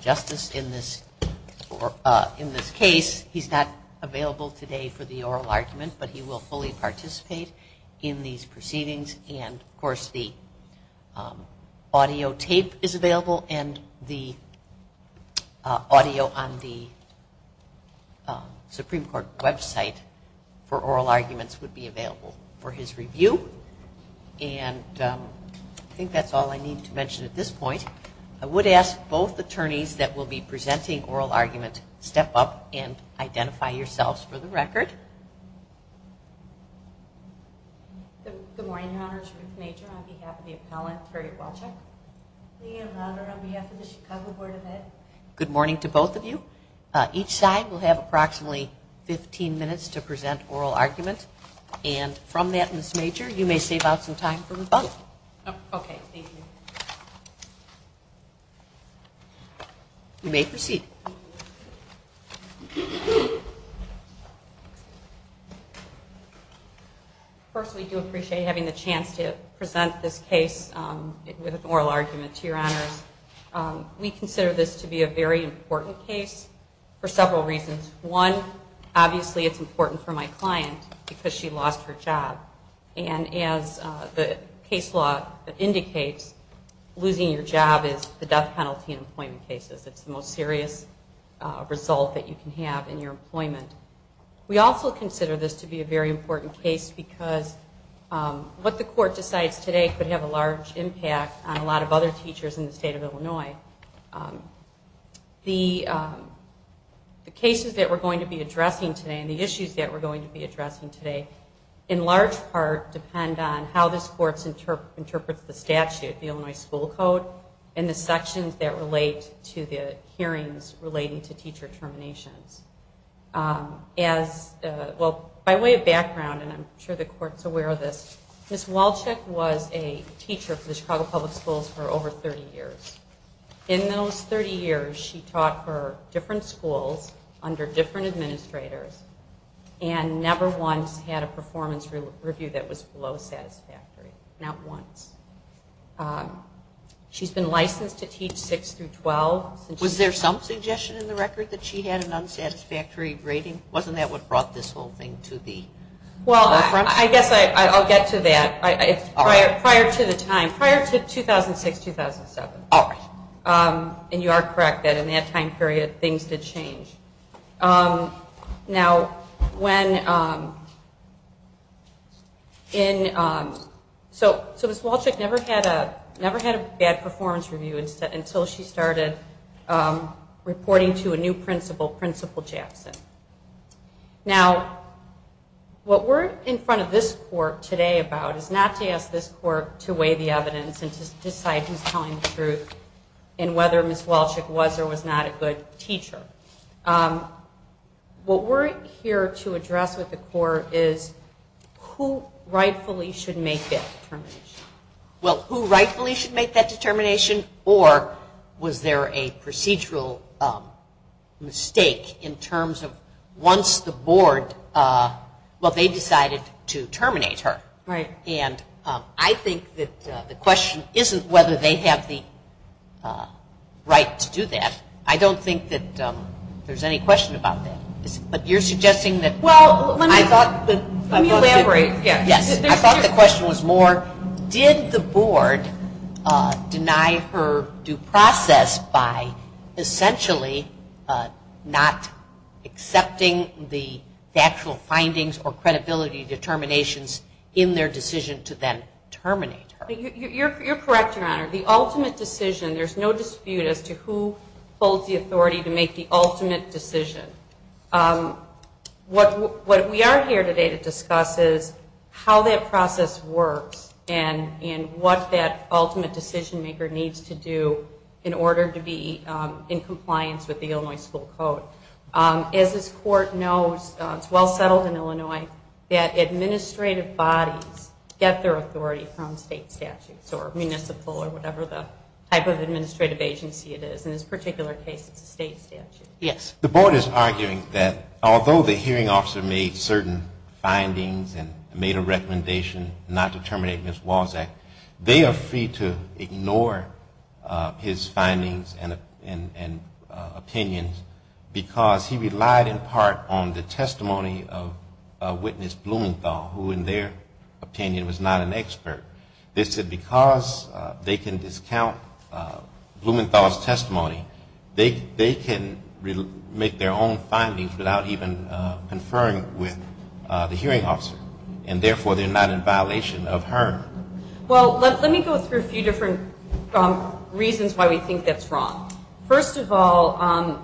justice in this or in this case he's not available today for the oral argument but he will fully participate in these proceedings and of course the audio tape is available and the audio on the Supreme Court website for oral arguments would be available for his review and I think that's all I need to mention at this point. I would ask both attorneys that will be presenting oral argument step up and identify yourselves for the record. Good morning Your Honors Ruth Major on behalf of the appellant Harriet Walczak. Good morning to both of you. Each side will have approximately 15 minutes to present oral argument and from that you may proceed. First we do appreciate having the chance to present this case with an oral argument to Your Honors. We consider this to be a very important case for several reasons. One, obviously it's important for my client because she lost her job and as the case law indicates losing your job is the death penalty in employment cases. It's the most serious result that you can have in your employment. We also consider this to be a very important case because what the court decides today could have a large impact on a lot of other teachers in the state of Illinois. The cases that we're going to be addressing today and the issues that we're going to be addressing today in large part depend on how this court interprets the statute. The Illinois school code and the sections that relate to the hearings relating to teacher terminations. By way of background and I'm sure the court is aware of this, Ms. Walczak was a teacher for the Chicago Public Schools for over 30 years. In those 30 years she taught for different schools under different administrators and never once had a performance review that was below satisfactory. Not once. She's been licensed to teach 6 through 12. Was there some suggestion in the record that she had an unsatisfactory rating? Wasn't that what brought this whole thing to the forefront? I guess I'll get to that. Prior to the time. Prior to 2006-2007. And you are correct that in that time period things did change. So Ms. Walczak never had a bad performance review until she started reporting to a new principal, Principal Japson. Now what we're in front of this court today about is not to ask this court to weigh the evidence and to decide who's telling the truth and whether Ms. Walczak was or was not a good teacher. What we're here to address with the court is who rightfully should make that determination. Well, who rightfully should make that determination or was there a procedural mistake in terms of once the board, well, they decided to terminate her. And I think that the question isn't whether they have the right to do that. I don't think that there's any question about that. But you're suggesting that. Well, let me elaborate. Yes. I thought the question was more did the board deny her due process by essentially not accepting the factual findings or credibility determinations in their decision to then terminate her? You're correct, Your Honor. The ultimate decision, there's no dispute as to who holds the authority to make the ultimate decision. What we are here today to discuss is how that process works and what that ultimate decision maker needs to do in order to be in compliance with the Illinois school code. As this court knows, it's well settled in Illinois that administrative bodies get their authority from state staff. Yes. The board is arguing that although the hearing officer made certain findings and made a recommendation not to terminate Ms. Walczak, they are free to ignore his findings and opinions because he relied in part on the testimony of Witness Blumenthal, who in their opinion was not an expert. This is a case where the hearing officer made certain findings and made a recommendation not to terminate Ms. Walczak. And because they can discount Blumenthal's testimony, they can make their own findings without even conferring with the hearing officer. And therefore, they're not in violation of HERN. Well, let me go through a few different reasons why we think that's wrong. First of all,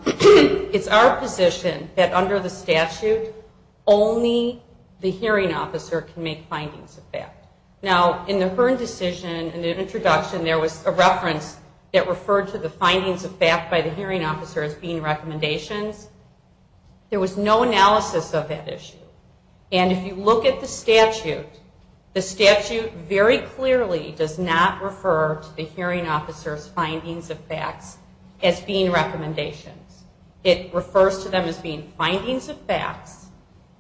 it's our position that under the statute, only the hearing officer can make findings of fact. Now, in the HERN decision, in the introduction, there was a reference that referred to the findings of fact by the hearing officer as being recommendations. There was no analysis of that issue. And if you look at the statute, the statute very clearly does not refer to the hearing officer's findings of facts as being recommendations. It refers to them as being findings of facts,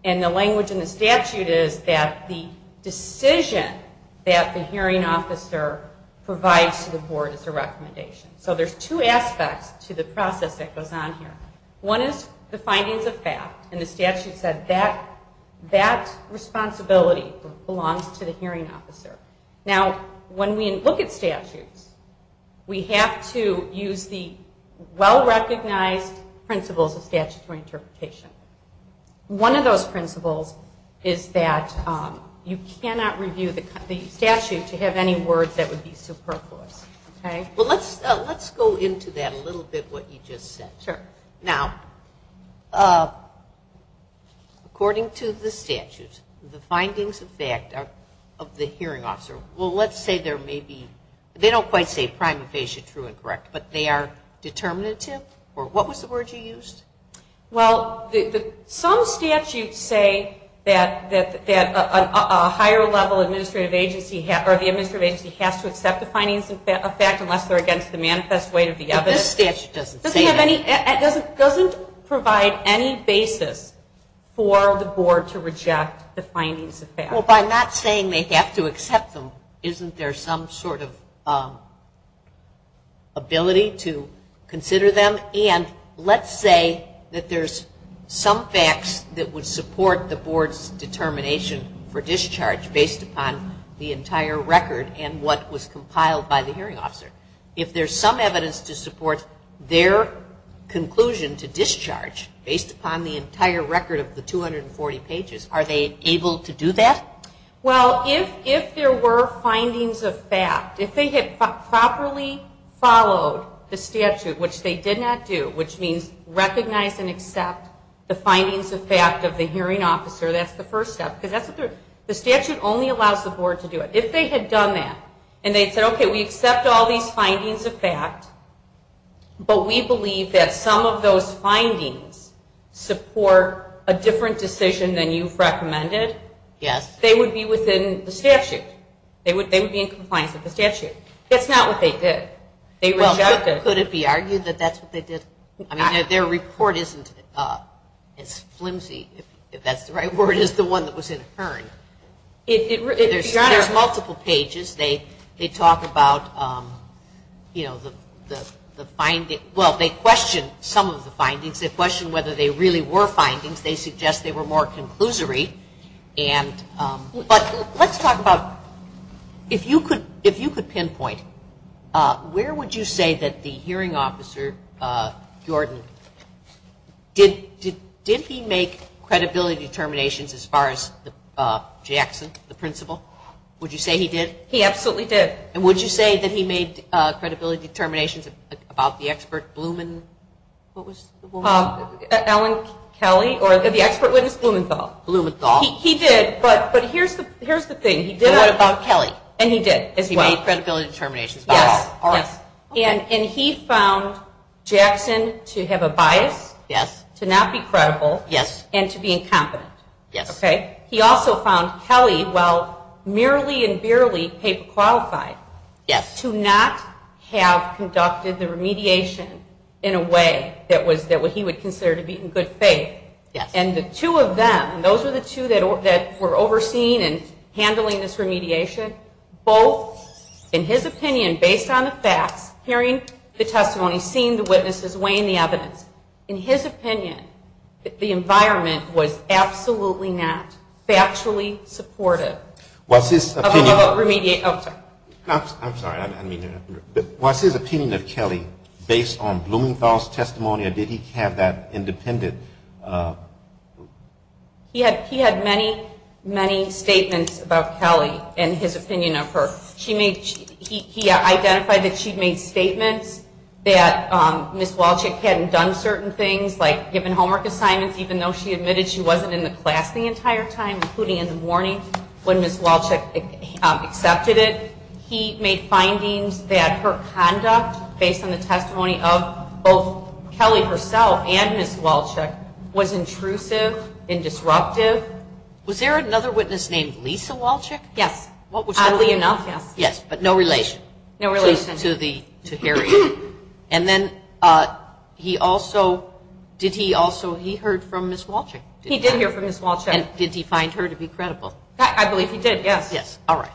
and the language in the statute is that the decision that the hearing officer provides to the board is a recommendation. So there's two aspects to the process that goes on here. One is the findings of fact, and the statute said that that responsibility belongs to the hearing officer. Now, when we look at statutes, we have to use the well-recognized principles of statutory interpretation. One of those principles is that you cannot review the statute to have any words that would be superfluous. Well, let's go into that a little bit, what you just said. Sure. Now, according to the statute, the findings of fact of the hearing officer, well, let's say there may be, they don't quite say prima facie true and correct, but they are determinative, or what was the word you used? Well, some statutes say that a higher level administrative agency has to accept the findings of fact unless they're against the manifest weight of the evidence. This statute doesn't say that. It doesn't provide any basis for the board to reject the findings of fact. Well, by not saying they have to accept them, isn't there some sort of ability to consider them? And let's say that there's some facts that would support the board's determination for discharge based upon the entire record and what was compiled by the hearing officer. If there's some evidence to support their conclusion to discharge based upon the entire record of the 240 pages, are they able to do that? Well, if there were findings of fact, if they had properly followed the statute, which they did not do, which means recognize and accept the findings of fact of the hearing officer, that's the first step. The statute only allows the board to do it. If they had done that, and they said, okay, we accept all these findings of fact, but we believe that some of those findings support a different decision than you've recommended, they would be within the statute. They would be in compliance with the statute. That's not what they did. Could it be argued that that's what they did? I mean, their report isn't as flimsy, if that's the right word, as the one that was in HERN. There's multiple pages. They talk about, you know, the findings. Well, they question some of the findings. They question whether they really were findings. They suggest they were more conclusory. But let's talk about, if you could pinpoint, where would you say that the hearing officer, Jordan, did he make credibility determinations as far as Jackson, the principal? Would you say he did? He absolutely did. And would you say that he made credibility determinations about the expert Blumenthal? What was the woman? Ellen Kelly, or the expert witness Blumenthal. Blumenthal. He did, but here's the thing. What about Kelly? And he did as well. He made credibility determinations about all of us. Yes. And he found Jackson to have a bias, to not be credible, and to be incompetent. Yes. And he also found Kelly, while merely and barely paper qualified, to not have conducted the remediation in a way that he would consider to be in good faith. Yes. And the two of them, and those were the two that were overseeing and handling this remediation, both, in his opinion, based on the facts, hearing the testimony, seeing the witnesses, weighing the evidence, in his opinion, the environment was absolutely not factually supportive. What's his opinion? Of the remediation. I'm sorry. I'm sorry. I didn't mean to interrupt. What's his opinion of Kelly based on Blumenthal's testimony, or did he have that independent? He had many, many statements about Kelly and his opinion of her. He identified that she made statements that Ms. Walchick hadn't done certain things, like given homework assignments, even though she admitted she wasn't in the class the entire time, including in the morning, when Ms. Walchick accepted it. He made findings that her conduct, based on the testimony of both Kelly herself and Ms. Walchick, was intrusive and disruptive. Was there another witness named Lisa Walchick? Yes. Oddly enough, yes, but no relation. No relation. To the hearing. And then he also, did he also, he heard from Ms. Walchick. He did hear from Ms. Walchick. And did he find her to be credible? I believe he did, yes. Yes. All right.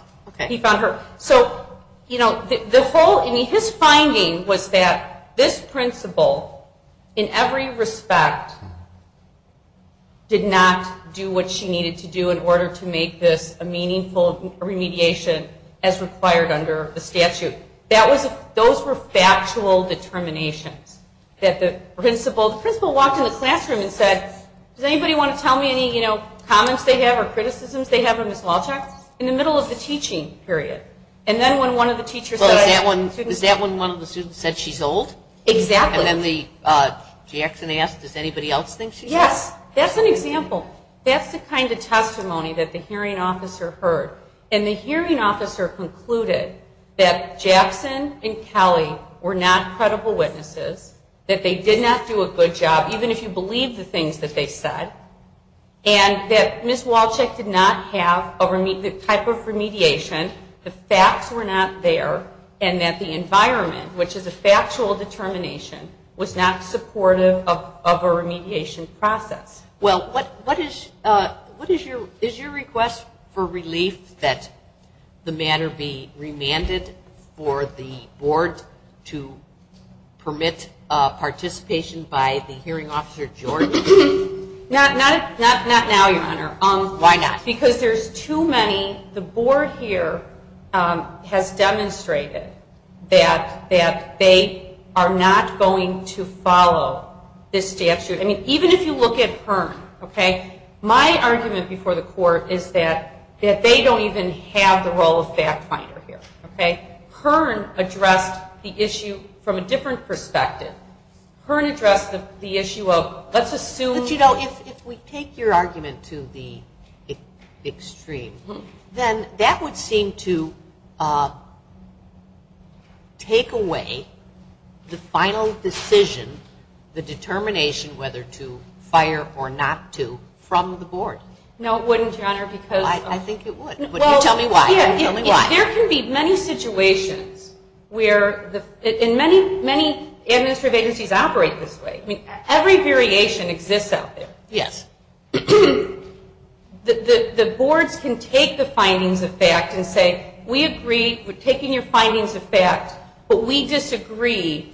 He found her. So, you know, the whole, I mean, his finding was that this principal, in every respect, did not do what she needed to do in order to make this a meaningful remediation as required under the statute. That was, those were factual determinations that the principal, the principal walked in the classroom and said, does anybody want to tell me any, you know, comments they have or criticisms they have of Ms. Walchick? In the middle of the teaching period. And then when one of the teachers said... Well, is that when one of the students said she's old? Exactly. And then the, Jackson asked, does anybody else think she's old? Yes. That's an example. That's the kind of testimony that the hearing officer heard. And the hearing officer concluded that Jackson and Kelly were not credible witnesses, that they did not do a good job, even if you believe the things that they said, and that Ms. Walchick did not have the type of remediation, the facts were not there, and that the environment, which is a factual determination, was not supportive of a remediation process. Well, what is, what is your, is your request for relief that the matter be remanded for the board to permit participation by the hearing officer, George? Not, not, not, not now, Your Honor. Why not? Because there's too many, the board here has demonstrated that, that they are not going to follow this statute. I mean, even if you look at Hearn, okay, my argument before the court is that, that they don't even have the role of fact finder here, okay? Hearn addressed the issue from a different perspective. Hearn addressed the issue of, let's assume. But, you know, if we take your argument to the extreme, then that would seem to take away the final decision, the determination whether to fire or not to, from the board. No, it wouldn't, Your Honor, because. I think it would, but you tell me why, tell me why. There can be many situations where, and many, many administrative agencies operate this way. I mean, every variation exists out there. Yes. The boards can take the findings of fact and say, we agree, we're taking your findings of fact, but we disagree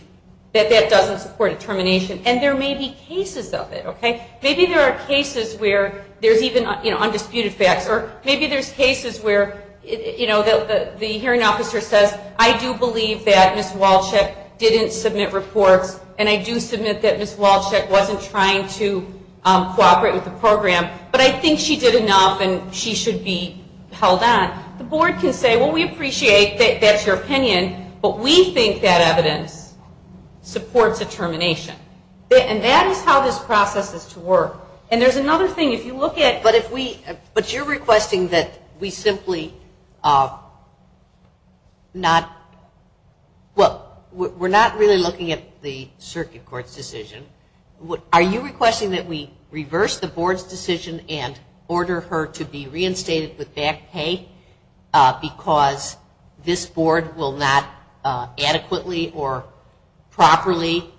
that that doesn't support determination. And there may be cases of it, okay? Maybe there are cases where there's even undisputed facts, or maybe there's cases where, you know, the hearing officer says, I do believe that Ms. Walchek didn't submit reports, and I do submit that Ms. Walchek wasn't trying to cooperate with the program, but I think she did enough and she should be held on. The board can say, well, we appreciate that's your opinion, but we think that evidence supports determination. And that is how this process is to work. And there's another thing. If you look at. But you're requesting that we simply not, well, we're not really looking at the circuit court's decision. Are you requesting that we reverse the board's decision and order her to be reinstated with back pay because this board will not adequately or properly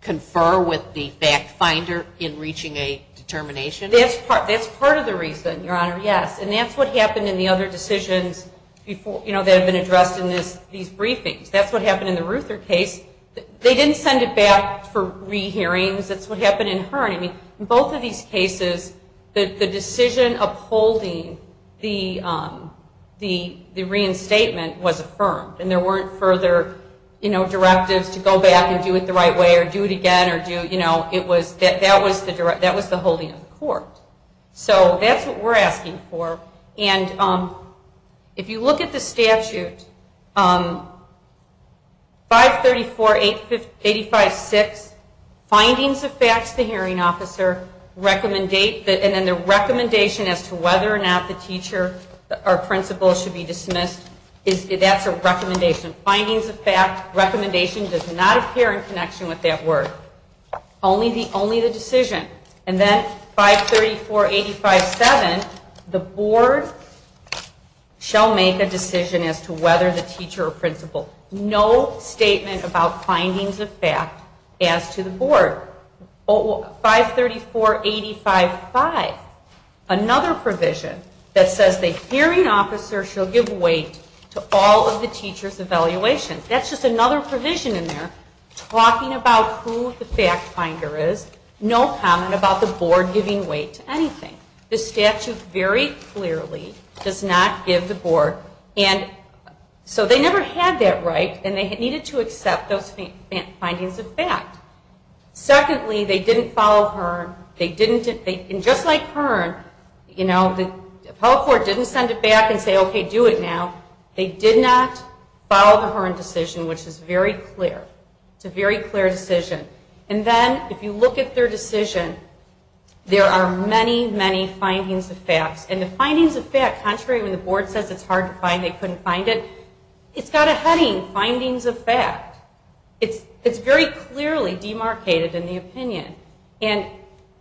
confer with the fact finder in reaching a determination? That's part of the reason, Your Honor, yes. And that's what happened in the other decisions, you know, that have been addressed in these briefings. That's what happened in the Ruther case. They didn't send it back for re-hearings. That's what happened in her. In both of these cases, the decision upholding the reinstatement was affirmed. And there weren't further directives to go back and do it the right way or do it again. That was the holding of the court. So that's what we're asking for. And if you look at the statute, 534.856, findings of facts, the hearing officer, and then the recommendation as to whether or not the teacher or principal should be dismissed, that's a recommendation. Findings of facts, recommendation does not appear in connection with that word. Only the decision. And then 534.857, the board shall make a decision as to whether the teacher or principal. No statement about findings of fact as to the board. 534.855, another provision that says the hearing officer shall give weight to all of the teacher's evaluations. That's just another provision in there talking about who the fact finder is. No comment about the board giving weight to anything. The statute very clearly does not give the board. And so they never had that right, and they needed to accept those findings of fact. Secondly, they didn't follow Hearn. And just like Hearn, the appellate court didn't send it back and say, okay, do it now. They did not follow the Hearn decision, which is very clear. It's a very clear decision. And then if you look at their decision, there are many, many findings of facts. And the findings of fact, contrary to when the board says it's hard to find, they couldn't find it, it's got a heading, findings of fact. It's very clearly demarcated in the opinion. And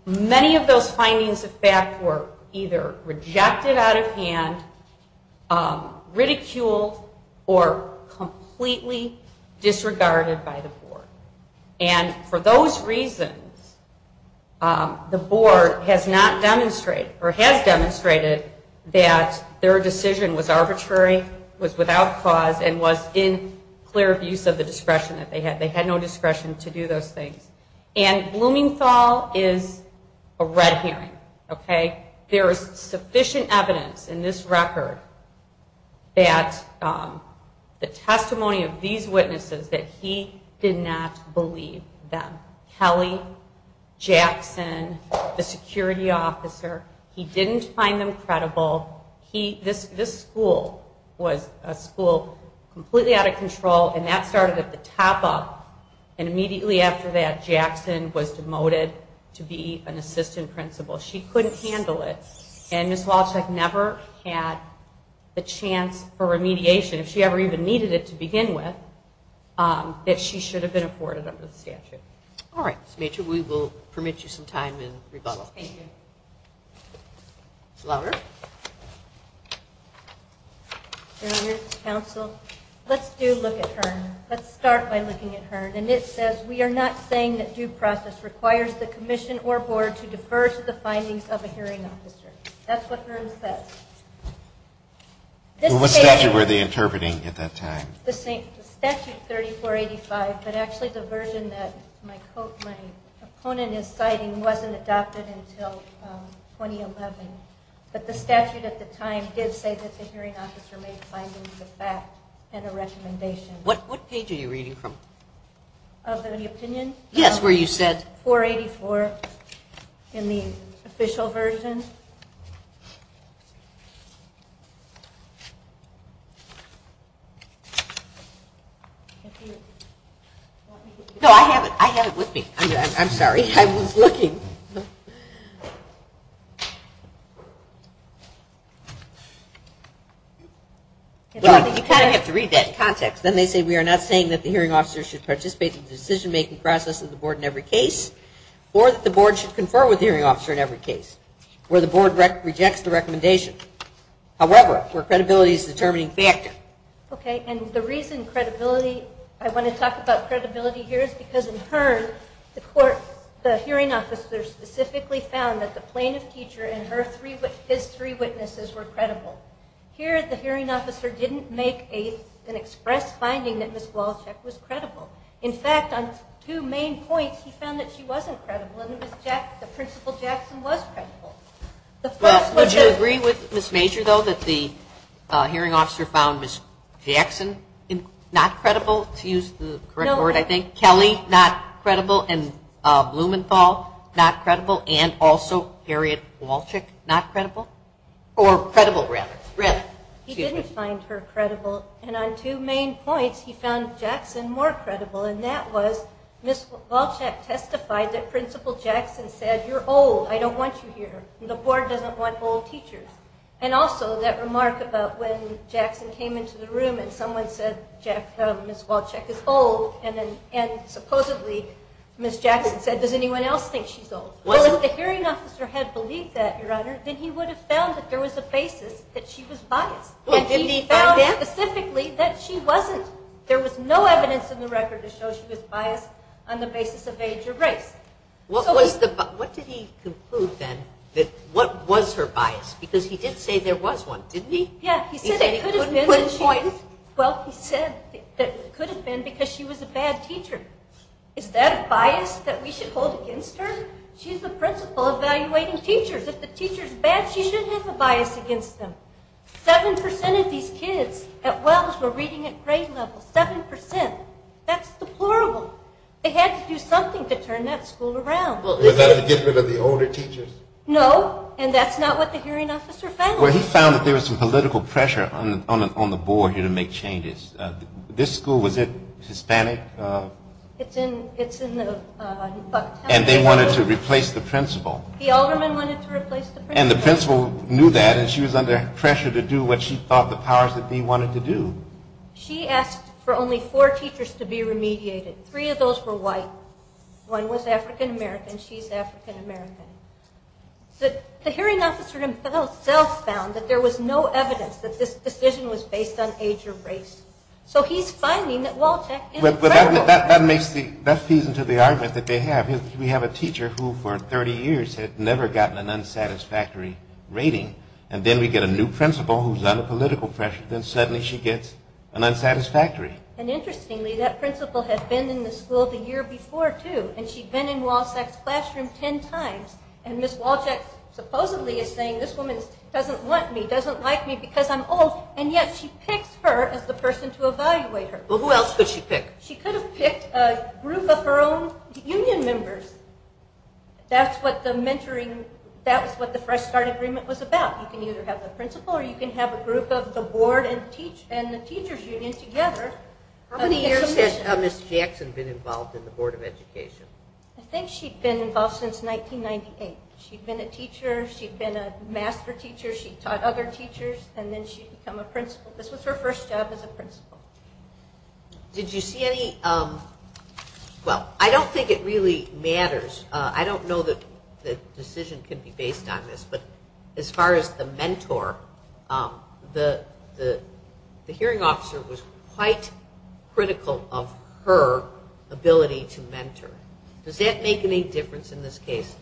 many of those findings of fact were either rejected out of hand, ridiculed, or completely disregarded by the board. And for those reasons, the board has not demonstrated, or has demonstrated, that their decision was arbitrary, was without cause, and was in clear abuse of the discretion that they had. They had no discretion to do those things. And Blumenthal is a red herring, okay? There is sufficient evidence in this record that the testimony of these witnesses that he did not believe them. Kelly, Jackson, the security officer, he didn't find them credible. This school was a school completely out of control, and that started at the top up. And immediately after that, Jackson was demoted to be an assistant principal. She couldn't handle it. And Ms. Walchuk never had the chance for remediation, if she ever even needed it to begin with, that she should have been afforded under the statute. All right. Ms. Mature, we will permit you some time in rebuttal. Thank you. Lauer. Your Honor, counsel, let's do look at Hearn. Let's start by looking at Hearn. And it says, We are not saying that due process requires the commission or board to defer to the findings of a hearing officer. That's what Hearn says. What statute were they interpreting at that time? The statute 3485, but actually the version that my opponent is citing wasn't adopted until 2011. But the statute at the time did say that the hearing officer made findings of fact and a recommendation. What page are you reading from? Of the opinion? Yes, where you said? 484 in the official version. No, I have it. I have it with me. I'm sorry. I was looking. You kind of have to read that in context. Then they say, We are not saying that the hearing officer should participate in the decision-making process of the board in every case or that the board should confer with the hearing officer in every case. Where the board rejects the recommendation. However, where credibility is the determining factor. Okay. And the reason I want to talk about credibility here is because in Hearn, the hearing officer specifically found that the plaintiff teacher and his three witnesses were credible. Here, the hearing officer didn't make an express finding that Ms. Wolchek was credible. In fact, on two main points, he found that she wasn't credible and that Principal Jackson was credible. Would you agree with Ms. Major, though, that the hearing officer found Ms. Jackson not credible, to use the correct word, I think, Kelly not credible, and Blumenthal not credible, and also Harriet Wolchek not credible? Or credible, rather. He didn't find her credible. And on two main points, he found Jackson more credible, and that was Ms. Wolchek testified that Principal Jackson said, You're old. I don't want you here. The board doesn't want old teachers. And also that remark about when Jackson came into the room and someone said Ms. Wolchek is old, and supposedly Ms. Jackson said, Does anyone else think she's old? Well, if the hearing officer had believed that, Your Honor, then he would have found that there was a basis that she was biased. And he found specifically that she wasn't. There was no evidence in the record to show she was biased on the basis of age or race. What did he conclude, then, that was her bias? Because he did say there was one, didn't he? Yeah. He said it could have been because she was a bad teacher. Is that a bias that we should hold against her? She's the principal evaluating teachers. If the teacher's bad, she shouldn't have a bias against them. 7% of these kids at Wells were reading at grade level, 7%. That's deplorable. They had to do something to turn that school around. Was that to get rid of the older teachers? No, and that's not what the hearing officer found. Well, he found that there was some political pressure on the board here to make changes. This school, was it Hispanic? It's in the Bucktown area. And they wanted to replace the principal. The alderman wanted to replace the principal. And the principal knew that, and she was under pressure to do what she thought the powers-that-be wanted to do. She asked for only four teachers to be remediated. Three of those were white. One was African-American. She's African-American. The hearing officer himself found that there was no evidence that this decision was based on age or race. So he's finding that Wolchek is credible. That feeds into the argument that they have. We have a teacher who, for 30 years, had never gotten an unsatisfactory rating. And then we get a new principal who's under political pressure. Then suddenly she gets an unsatisfactory. And interestingly, that principal had been in the school the year before, too. And she'd been in Wolchek's classroom ten times. And Ms. Wolchek supposedly is saying, this woman doesn't want me, doesn't like me because I'm old. And yet she picks her as the person to evaluate her. Well, who else could she pick? She could have picked a group of her own union members. That's what the mentoring, that was what the Fresh Start Agreement was about. You can either have the principal or you can have a group of the board and the teacher's union together. How many years has Ms. Jackson been involved in the Board of Education? I think she'd been involved since 1998. She'd been a teacher. She'd been a master teacher. She taught other teachers. And then she'd become a principal. This was her first job as a principal. Did you see any, well, I don't think it really matters. I don't know that the decision can be based on this. But as far as the mentor, the hearing officer was quite critical of her ability to mentor. Does that make any difference in this case?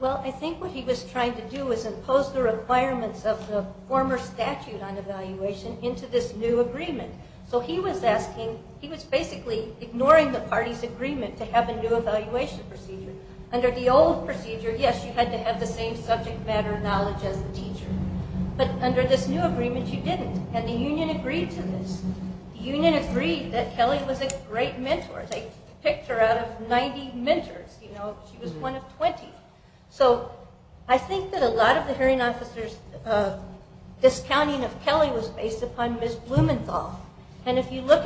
Well, I think what he was trying to do was impose the requirements of the former statute on evaluation into this new agreement. So he was asking, he was basically ignoring the party's agreement to have a new evaluation procedure. Under the old procedure, yes, you had to have the same subject matter knowledge as the teacher. But under this new agreement, you didn't. And the union agreed to this. The union agreed that Kelly was a great mentor. They picked her out of 90 mentors. She was one of 20. So I think that a lot of the hearing officer's discounting of Kelly was based upon Ms. Blumenthal. And if you look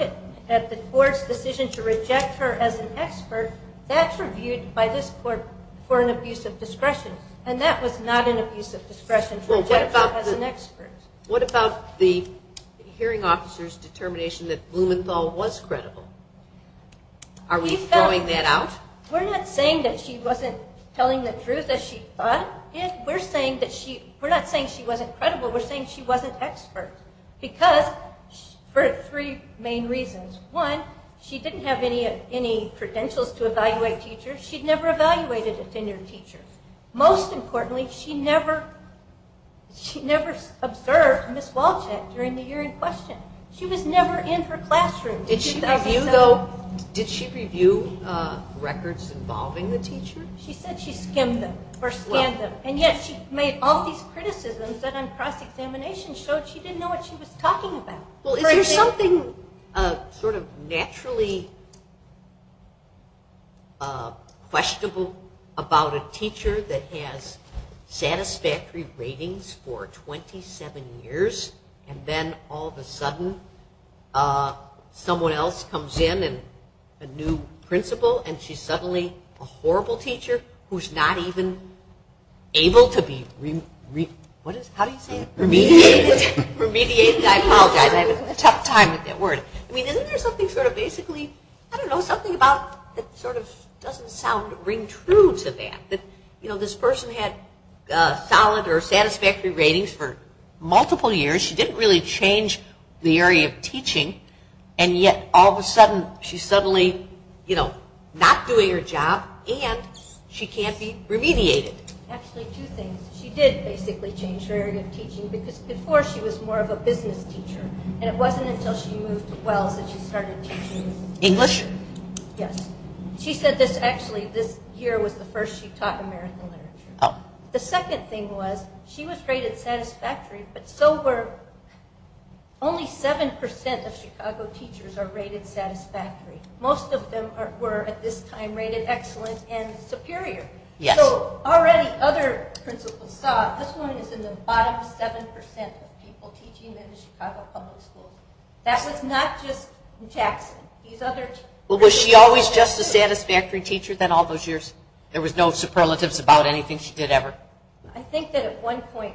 at the court's decision to reject her as an expert, that's reviewed by this court for an abuse of discretion. And that was not an abuse of discretion to reject her as an expert. What about the hearing officer's determination that Blumenthal was credible? Are we throwing that out? We're not saying that she wasn't telling the truth as she thought. We're not saying she wasn't credible. We're saying she wasn't expert because for three main reasons. One, she didn't have any credentials to evaluate teachers. She'd never evaluated a tenured teacher. Most importantly, she never observed Ms. Walchek during the year in question. She was never in her classroom. Did she review records involving the teacher? She said she skimmed them or scanned them. And yet she made all these criticisms that on cross-examination showed she didn't know what she was talking about. Is there something sort of naturally questionable about a teacher that has satisfactory ratings for 27 years and then all of a sudden someone else comes in, a new principal, and she's suddenly a horrible teacher who's not even able to be remediated? Remediated, I apologize. I'm having a tough time with that word. I mean, isn't there something sort of basically, I don't know, something about that sort of doesn't ring true to that? That this person had solid or satisfactory ratings for multiple years. She didn't really change the area of teaching, and yet all of a sudden she's suddenly not doing her job and she can't be remediated. Actually, two things. She did basically change her area of teaching because before she was more of a business teacher, and it wasn't until she moved to Wells that she started teaching English. Yes. She said this, actually, this year was the first she taught American literature. The second thing was she was rated satisfactory, but so were only 7% of Chicago teachers are rated satisfactory. Most of them were at this time rated excellent and superior. Yes. So already other principals saw, this one is in the bottom 7% of people teaching in the Chicago public schools. That was not just Jackson. Was she always just a satisfactory teacher then all those years? There was no superlatives about anything she did ever? I think that at one point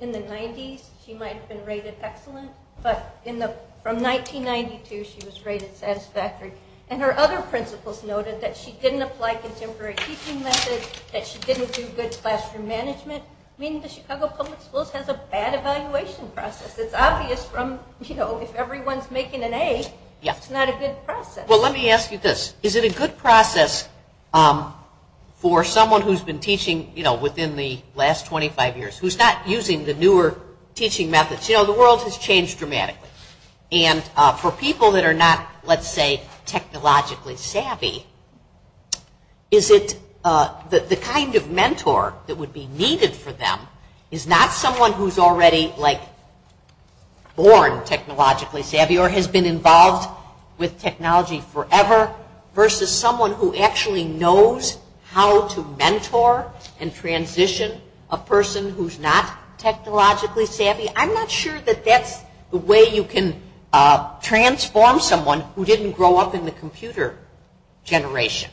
in the 90s she might have been rated excellent, but from 1992 she was rated satisfactory. And her other principals noted that she didn't apply contemporary teaching methods, that she didn't do good classroom management. I mean, the Chicago public schools has a bad evaluation process. It's obvious from if everyone is making an A, it's not a good process. Well, let me ask you this. Is it a good process for someone who has been teaching within the last 25 years, who is not using the newer teaching methods? The world has changed dramatically. And for people that are not, let's say, technologically savvy, is it the kind of mentor that would be needed for them is not someone who is already born technologically savvy or has been involved with technology forever versus someone who actually knows how to mentor and transition a person who is not technologically savvy. I'm not sure that that's the way you can transform someone who didn't grow up in the computer generation.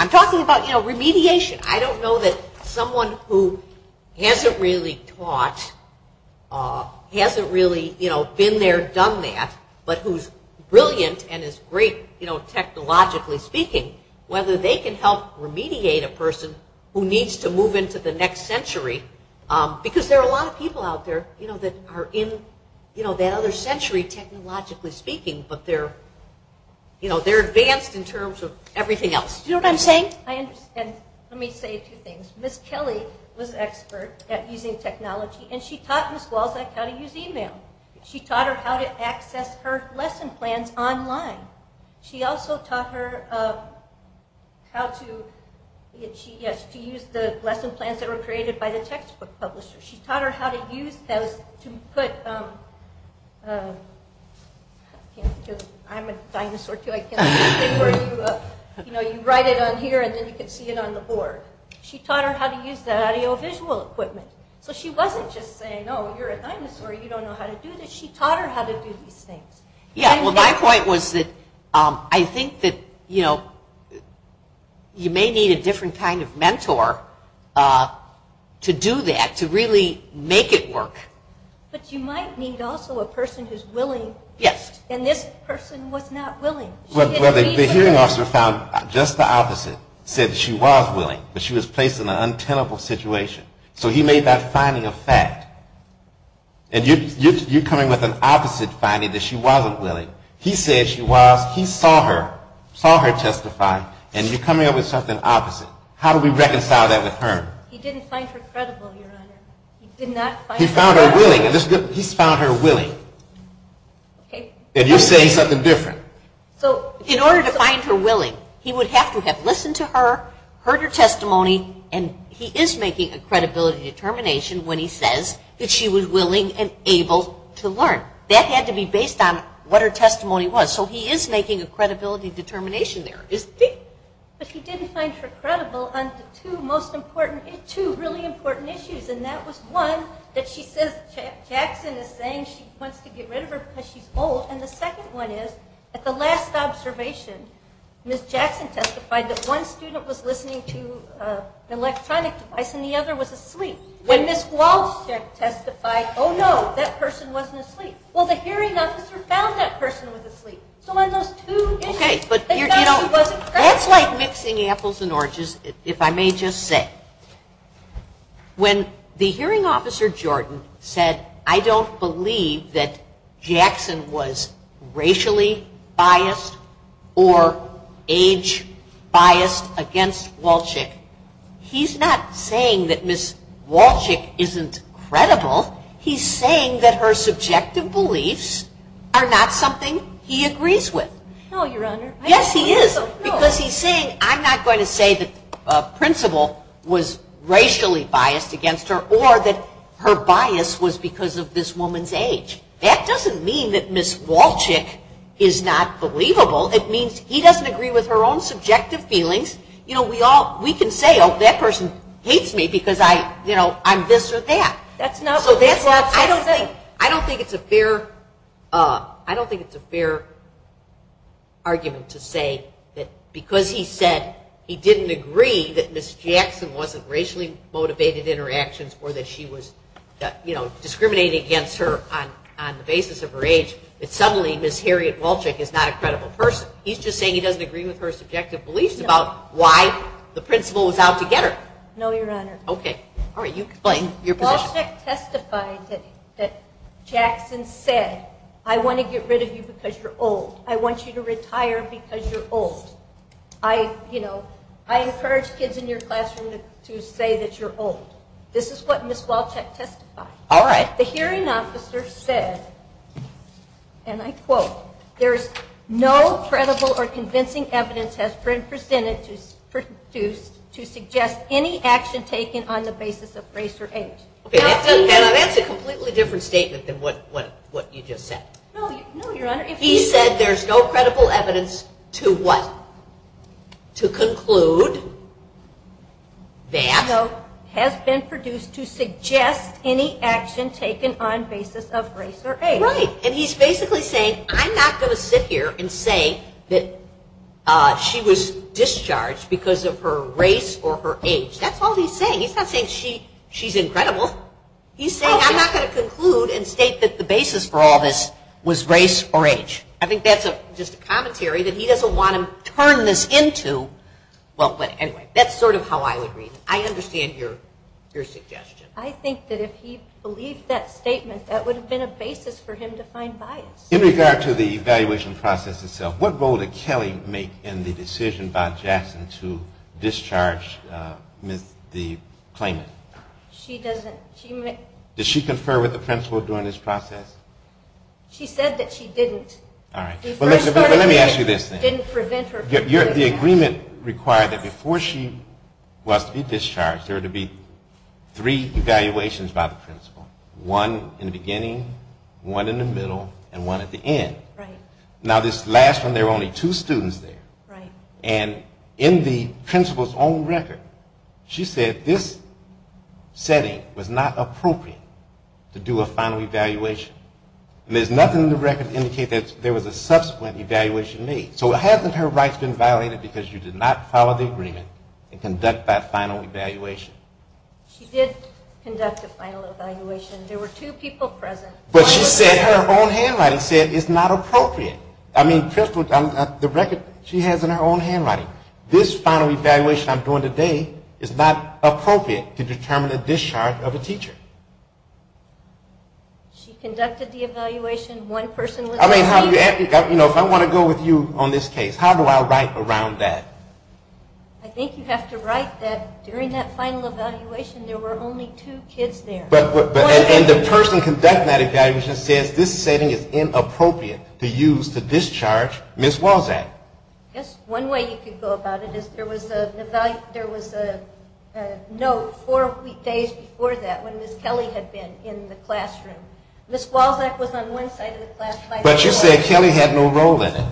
I'm talking about remediation. I don't know that someone who hasn't really taught, hasn't really been there, done that, but who's brilliant and is great technologically speaking, whether they can help remediate a person who needs to move into the next century. Because there are a lot of people out there that are in that other century, technologically speaking, but they're advanced in terms of everything else. Do you know what I'm saying? I understand. Let me say two things. Ms. Kelly was an expert at using technology, and she taught Ms. Walczak how to use email. She taught her how to access her lesson plans online. She also taught her how to use the lesson plans that were created by the textbook publisher. She taught her how to use those to put – I'm a dinosaur, too. You write it on here, and then you can see it on the board. She taught her how to use the audiovisual equipment. So she wasn't just saying, oh, you're a dinosaur, you don't know how to do this. She taught her how to do these things. My point was that I think that you may need a different kind of mentor to do that, to really make it work. But you might need also a person who's willing, and this person was not willing. Well, the hearing officer found just the opposite. He said she was willing, but she was placed in an untenable situation. So he made that finding a fact. And you're coming with an opposite finding, that she wasn't willing. He said she was. He saw her, saw her testify, and you're coming up with something opposite. How do we reconcile that with her? He didn't find her credible, Your Honor. He did not find her credible. He found her willing. He found her willing. And you're saying something different. In order to find her willing, he would have to have listened to her, heard her testimony, and he is making a credibility determination when he says that she was willing and able to learn. That had to be based on what her testimony was. So he is making a credibility determination there, isn't he? But he didn't find her credible on two really important issues, and that was one, that she says Jackson is saying she wants to get rid of her because she's old. And the second one is, at the last observation, Ms. Jackson testified that one student was listening to an electronic device and the other was asleep. When Ms. Walsh testified, oh, no, that person wasn't asleep. Well, the hearing officer found that person was asleep. So on those two issues, they found she wasn't credible. That's like mixing apples and oranges, if I may just say. When the hearing officer, Jordan, said, I don't believe that Jackson was racially biased or age biased against Walshick, he's not saying that Ms. Walshick isn't credible. He's saying that her subjective beliefs are not something he agrees with. No, Your Honor. Yes, he is. Because he's saying, I'm not going to say the principal was racially biased against her or that her bias was because of this woman's age. That doesn't mean that Ms. Walshick is not believable. It means he doesn't agree with her own subjective feelings. You know, we can say, oh, that person hates me because I'm this or that. I don't think it's a fair argument to say that because he said he didn't agree that Ms. Jackson wasn't racially motivated in her actions or that she was discriminating against her on the basis of her age, that suddenly Ms. Harriet Walshick is not a credible person. He's just saying he doesn't agree with her subjective beliefs about why the principal was out to get her. No, Your Honor. Okay. All right, you explain your position. Walshick testified that Jackson said, I want to get rid of you because you're old. I want you to retire because you're old. I encourage kids in your classroom to say that you're old. This is what Ms. Walshick testified. All right. The hearing officer said, and I quote, there's no credible or convincing evidence has been presented to suggest any action taken on the basis of race or age. Now, that's a completely different statement than what you just said. No, Your Honor. He said there's no credible evidence to what? To conclude that? No, has been produced to suggest any action taken on basis of race or age. Right, and he's basically saying I'm not going to sit here and say that she was discharged because of her race or her age. That's all he's saying. He's not saying she's incredible. He's saying I'm not going to conclude and state that the basis for all this was race or age. I think that's just a commentary that he doesn't want to turn this into. But anyway, that's sort of how I would read it. I understand your suggestion. I think that if he believed that statement, that would have been a basis for him to find bias. In regard to the evaluation process itself, what role did Kelly make in the decision by Jackson to discharge the claimant? She doesn't. Did she confer with the principal during this process? She said that she didn't. All right. The agreement required that before she was to be discharged, there are to be three evaluations by the principal. One in the beginning, one in the middle, and one at the end. Right. Now this last one, there were only two students there. Right. And in the principal's own record, she said this setting was not appropriate to do a final evaluation. And there's nothing in the record to indicate that there was a subsequent evaluation made. So hasn't her rights been violated because you did not follow the agreement and conduct that final evaluation? She did conduct a final evaluation. There were two people present. But she said her own handwriting said it's not appropriate. I mean, the record she has in her own handwriting. This final evaluation I'm doing today is not appropriate to determine a discharge of a teacher. She conducted the evaluation. One person was a teacher. I mean, if I want to go with you on this case, how do I write around that? I think you have to write that during that final evaluation there were only two kids there. And the person conducting that evaluation says this setting is inappropriate to use to discharge Ms. Walczak. Yes. One way you could go about it is there was a note four days before that when Ms. Kelly had been in the classroom. Ms. Walczak was on one side of the classroom. But you said Kelly had no role in it.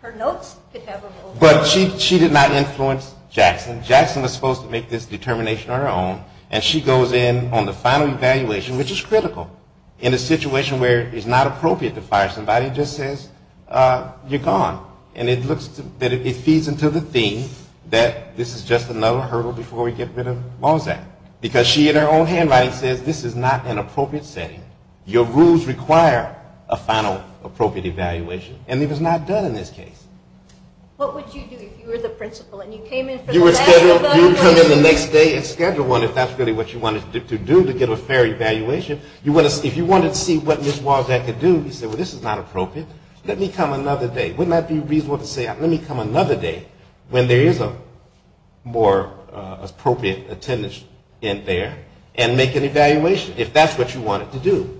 Her notes could have a role. But she did not influence Jackson. Jackson was supposed to make this determination on her own. And she goes in on the final evaluation, which is critical. In a situation where it's not appropriate to fire somebody, it just says you're gone. And it looks that it feeds into the theme that this is just another hurdle before we get rid of Walczak. Because she in her own handwriting says this is not an appropriate setting. Your rules require a final appropriate evaluation. And it was not done in this case. What would you do if you were the principal and you came in for the last evaluation? You would come in the next day and schedule one if that's really what you wanted to do to get a fair evaluation. If you wanted to see what Ms. Walczak could do, you said, well, this is not appropriate. Let me come another day. Wouldn't that be reasonable to say let me come another day when there is a more appropriate attendance in there and make an evaluation if that's what you wanted to do?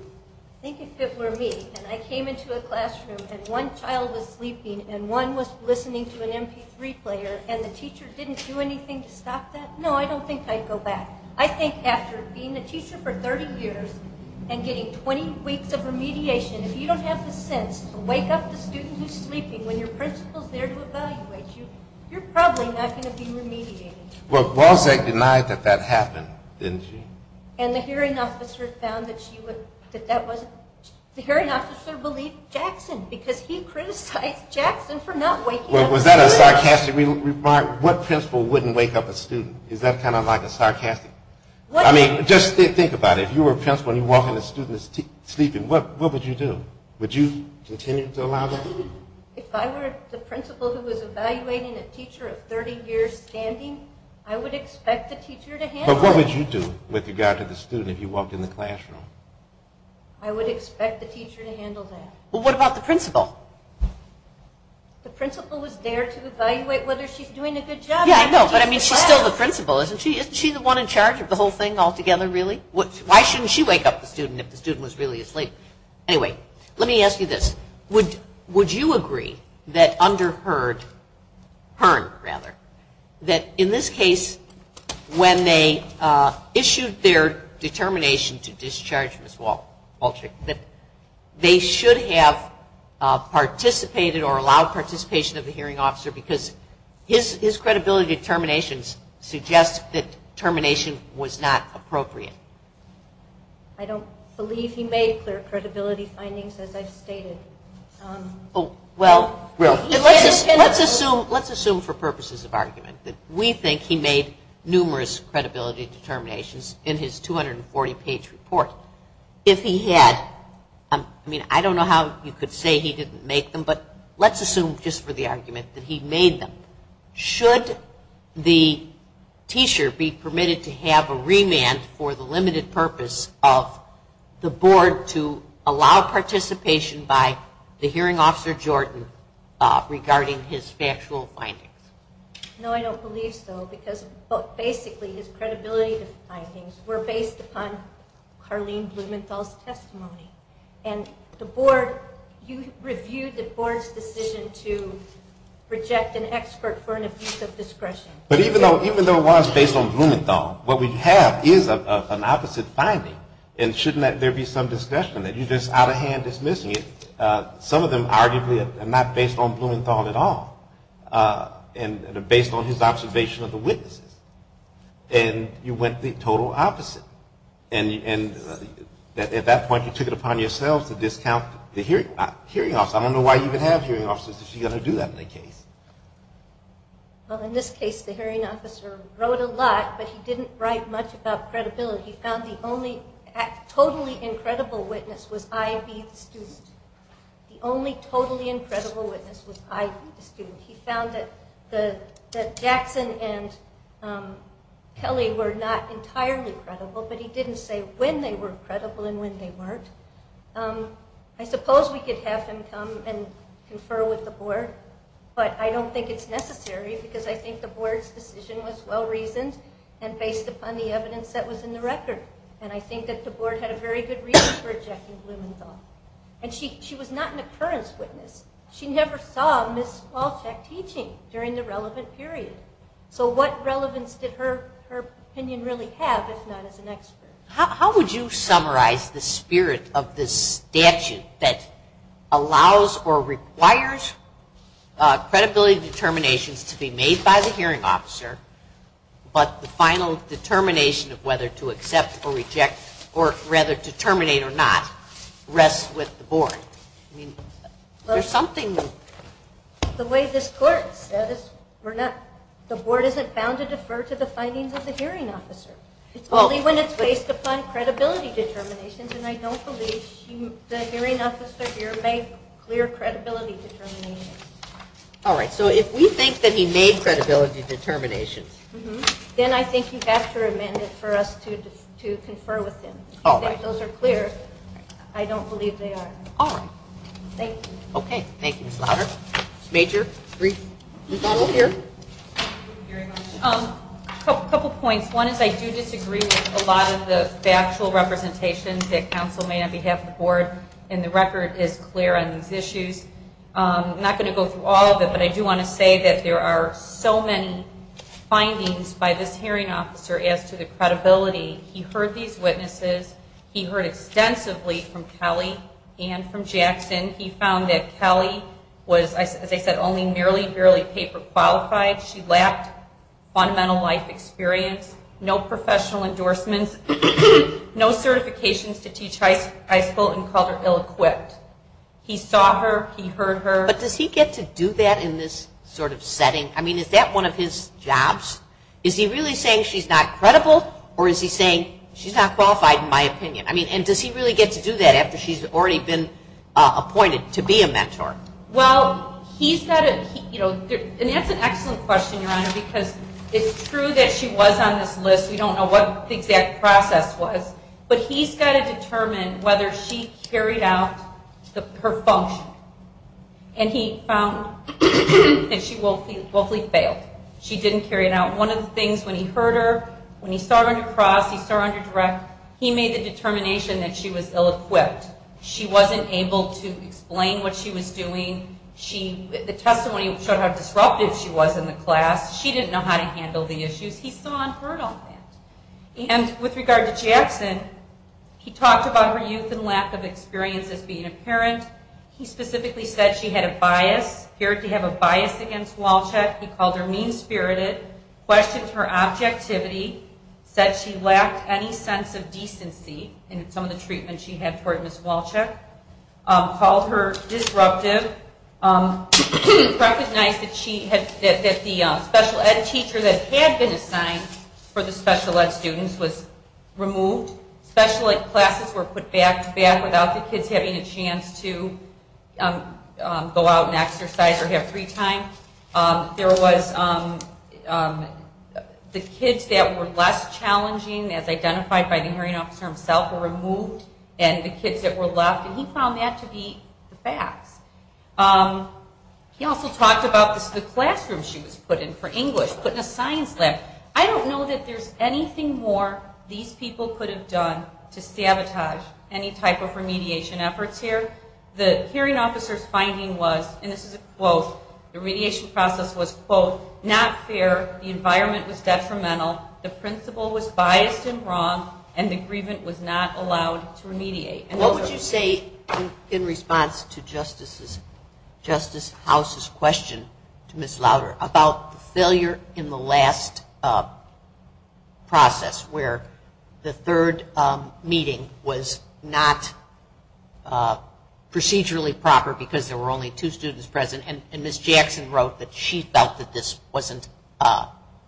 I think if it were me and I came into a classroom and one child was sleeping and one was listening to an MP3 player and the teacher didn't do anything to stop that, no, I don't think I'd go back. I think after being a teacher for 30 years and getting 20 weeks of remediation, if you don't have the sense to wake up the student who's sleeping when your principal is there to evaluate you, you're probably not going to be remediated. Well, Walczak denied that that happened, didn't she? And the hearing officer found that she would – that that wasn't – the hearing officer believed Jackson because he criticized Jackson for not waking up the student. Well, was that a sarcastic remark? What principal wouldn't wake up a student? Is that kind of like a sarcastic – I mean, just think about it. If you were a principal and you're walking a student that's sleeping, what would you do? Would you continue to allow that? If I were the principal who was evaluating a teacher of 30 years standing, I would expect the teacher to handle it. But what would you do with regard to the student if you walked in the classroom? I would expect the teacher to handle that. Well, what about the principal? The principal was there to evaluate whether she's doing a good job. Yeah, I know, but I mean, she's still the principal, isn't she? Isn't she the one in charge of the whole thing altogether, really? Why shouldn't she wake up the student if the student was really asleep? Anyway, let me ask you this. Would you agree that under Hearn, that in this case, when they issued their determination to discharge Ms. Walchick, that they should have participated or allowed participation of the hearing officer because his credibility determinations suggest that termination was not appropriate? I don't believe he made clear credibility findings, as I've stated. Well, let's assume for purposes of argument that we think he made numerous credibility determinations in his 240-page report. If he had, I mean, I don't know how you could say he didn't make them, but let's assume just for the argument that he made them. Should the teacher be permitted to have a remand for the limited purpose of the board to allow participation by the hearing officer, Jordan, regarding his factual findings? No, I don't believe so, because basically his credibility findings were based upon Carlene Blumenthal's testimony. And the board, you reviewed the board's decision to reject an expert for an abuse of discretion. But even though it was based on Blumenthal, what we have is an opposite finding, and shouldn't there be some discussion that you're just out of hand dismissing it? Some of them arguably are not based on Blumenthal at all, and are based on his observation of the witnesses. And you went the total opposite. And at that point you took it upon yourselves to discount the hearing officer. I don't know why you would have hearing officers if you're going to do that in that case. Well, in this case the hearing officer wrote a lot, but he didn't write much about credibility. He found the only totally incredible witness was I.B., the student. The only totally incredible witness was I.B., the student. He found that Jackson and Kelly were not entirely credible, but he didn't say when they were credible and when they weren't. I suppose we could have him come and confer with the board, but I don't think it's necessary because I think the board's decision was well-reasoned and based upon the evidence that was in the record. And I think that the board had a very good reason for rejecting Blumenthal. And she was not an occurrence witness. She never saw Ms. Walchek teaching during the relevant period. So what relevance did her opinion really have, if not as an expert? How would you summarize the spirit of this statute that allows or requires credibility determinations to be made by the hearing officer, but the final determination of whether to accept or reject, or whether to terminate or not, rests with the board? I mean, there's something... The way this court says, the board isn't bound to defer to the findings of the hearing officer. It's only when it's based upon credibility determinations, and I don't believe the hearing officer here made clear credibility determinations. All right. So if we think that he made credibility determinations... All right. If those are clear, I don't believe they are. All right. Thank you. Okay. Thank you, Ms. Louder. Major, brief rebuttal here. Thank you very much. A couple points. One is I do disagree with a lot of the factual representations that counsel made on behalf of the board, and the record is clear on these issues. I'm not going to go through all of it, but I do want to say that there are so many findings by this hearing officer as to the credibility. He heard these witnesses. He heard extensively from Kelly and from Jackson. He found that Kelly was, as I said, only merely, barely paper qualified. She lacked fundamental life experience, no professional endorsements, no certifications to teach high school, and called her ill-equipped. He saw her. He heard her. But does he get to do that in this sort of setting? I mean, is that one of his jobs? Is he really saying she's not credible, or is he saying she's not qualified in my opinion? I mean, and does he really get to do that after she's already been appointed to be a mentor? Well, he's got to, you know, and that's an excellent question, Your Honor, because it's true that she was on this list. We don't know what the exact process was, but he's got to determine whether she carried out her function. And he found that she woefully failed. She didn't carry it out. One of the things when he heard her, when he saw her under cross, he saw her under direct, he made the determination that she was ill-equipped. She wasn't able to explain what she was doing. The testimony showed how disruptive she was in the class. She didn't know how to handle the issues. He saw and heard all that. And with regard to Jackson, he talked about her youth and lack of experience as being a parent. He specifically said she had a bias, appeared to have a bias against Wolchek. He called her mean-spirited, questioned her objectivity, said she lacked any sense of decency in some of the treatment she had toward Ms. Wolchek, called her disruptive, recognized that the special ed teacher that had been assigned for the special ed students was removed, special ed classes were put back to back without the kids having a chance to go out and exercise or have free time. There was the kids that were less challenging, as identified by the hearing officer himself, were removed, and the kids that were left, and he found that to be the facts. He also talked about the classroom she was put in for English, put in a science lab. I don't know that there's anything more these people could have done to sabotage any type of remediation efforts here. The hearing officer's finding was, and this is a quote, the remediation process was, quote, not fair, the environment was detrimental, the principal was biased and wrong, and the grievant was not allowed to remediate. What would you say in response to Justice House's question to Ms. Lauder about the failure in the last process where the third meeting was not procedurally proper because there were only two students present, and Ms. Jackson wrote that she felt that this wasn't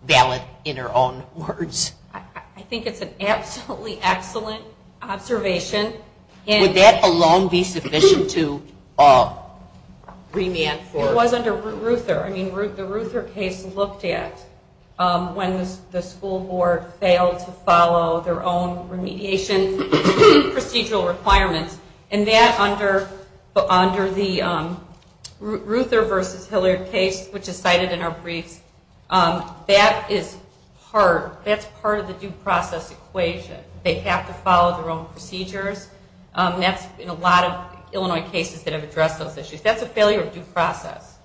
valid in her own words? I think it's an absolutely excellent observation. Would that alone be sufficient to remand for? It was under Ruther. The Ruther case looked at when the school board failed to follow their own remediation procedural requirements, and that under the Ruther versus Hilliard case, which is cited in our briefs, that is part of the due process equation. They have to follow their own procedures. That's in a lot of Illinois cases that have addressed those issues. That's a failure of due process.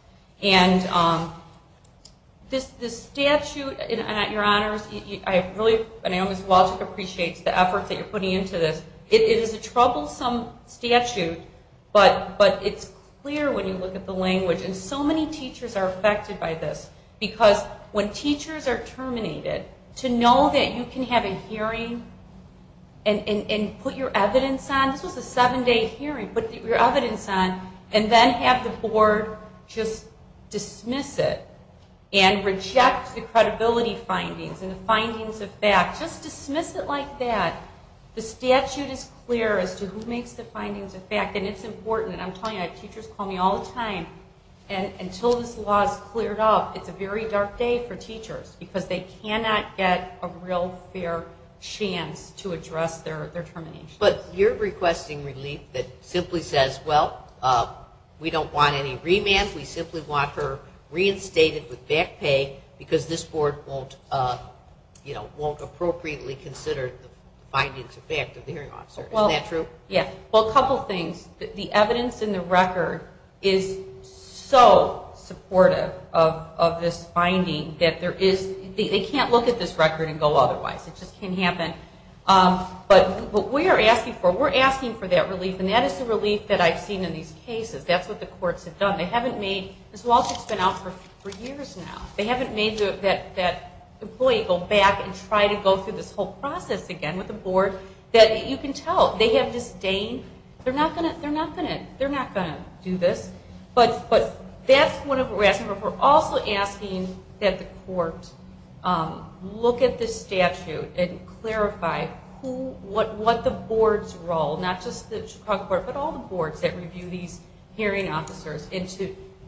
And the statute, your honors, I really appreciate the effort that you're putting into this. It is a troublesome statute, but it's clear when you look at the language, and so many teachers are affected by this because when teachers are terminated, to know that you can have a hearing and put your evidence on, this was a seven-day hearing, put your evidence on, and then have the board just dismiss it and reject the credibility findings and the findings of fact. Just dismiss it like that. The statute is clear as to who makes the findings of fact, and it's important. I'm telling you, I have teachers call me all the time, and until this law is cleared up, it's a very dark day for teachers because they cannot get a real fair chance to address their termination. But you're requesting relief that simply says, well, we don't want any remand, we simply want her reinstated with back pay because this board won't appropriately consider the findings of fact of the hearing officer. Isn't that true? Yes. Well, a couple things. The evidence in the record is so supportive of this finding that there is, they can't look at this record and go otherwise. It just can't happen. But what we are asking for, we're asking for that relief, and that is the relief that I've seen in these cases. That's what the courts have done. They haven't made, this lawsuit's been out for years now. They haven't made that employee go back and try to go through this whole process again with the board that you can tell they have disdain. They're not going to do this. But that's one of what we're asking for. And we're also asking that the court look at this statute and clarify what the board's role, not just the Chicago court, but all the boards that review these hearing officers, and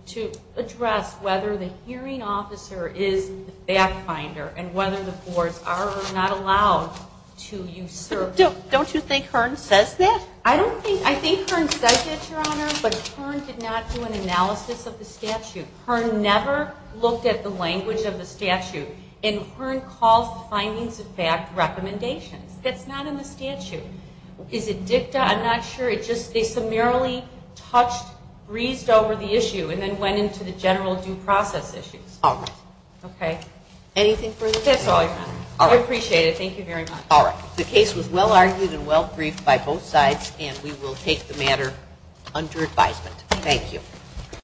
to address whether the hearing officer is the fact finder and whether the boards are or are not allowed to usurp. Don't you think Hearn says that? I think Hearn says that, Your Honor, but Hearn did not do an analysis of the statute. Hearn never looked at the language of the statute, and Hearn calls the findings of fact recommendations. That's not in the statute. Is it dicta? I'm not sure. It's just they summarily touched, breezed over the issue and then went into the general due process issues. All right. Okay? Anything further? That's all, Your Honor. I appreciate it. Thank you very much. All right. The case was well-argued and well-briefed by both sides, and we will take the matter under advisement. Thank you.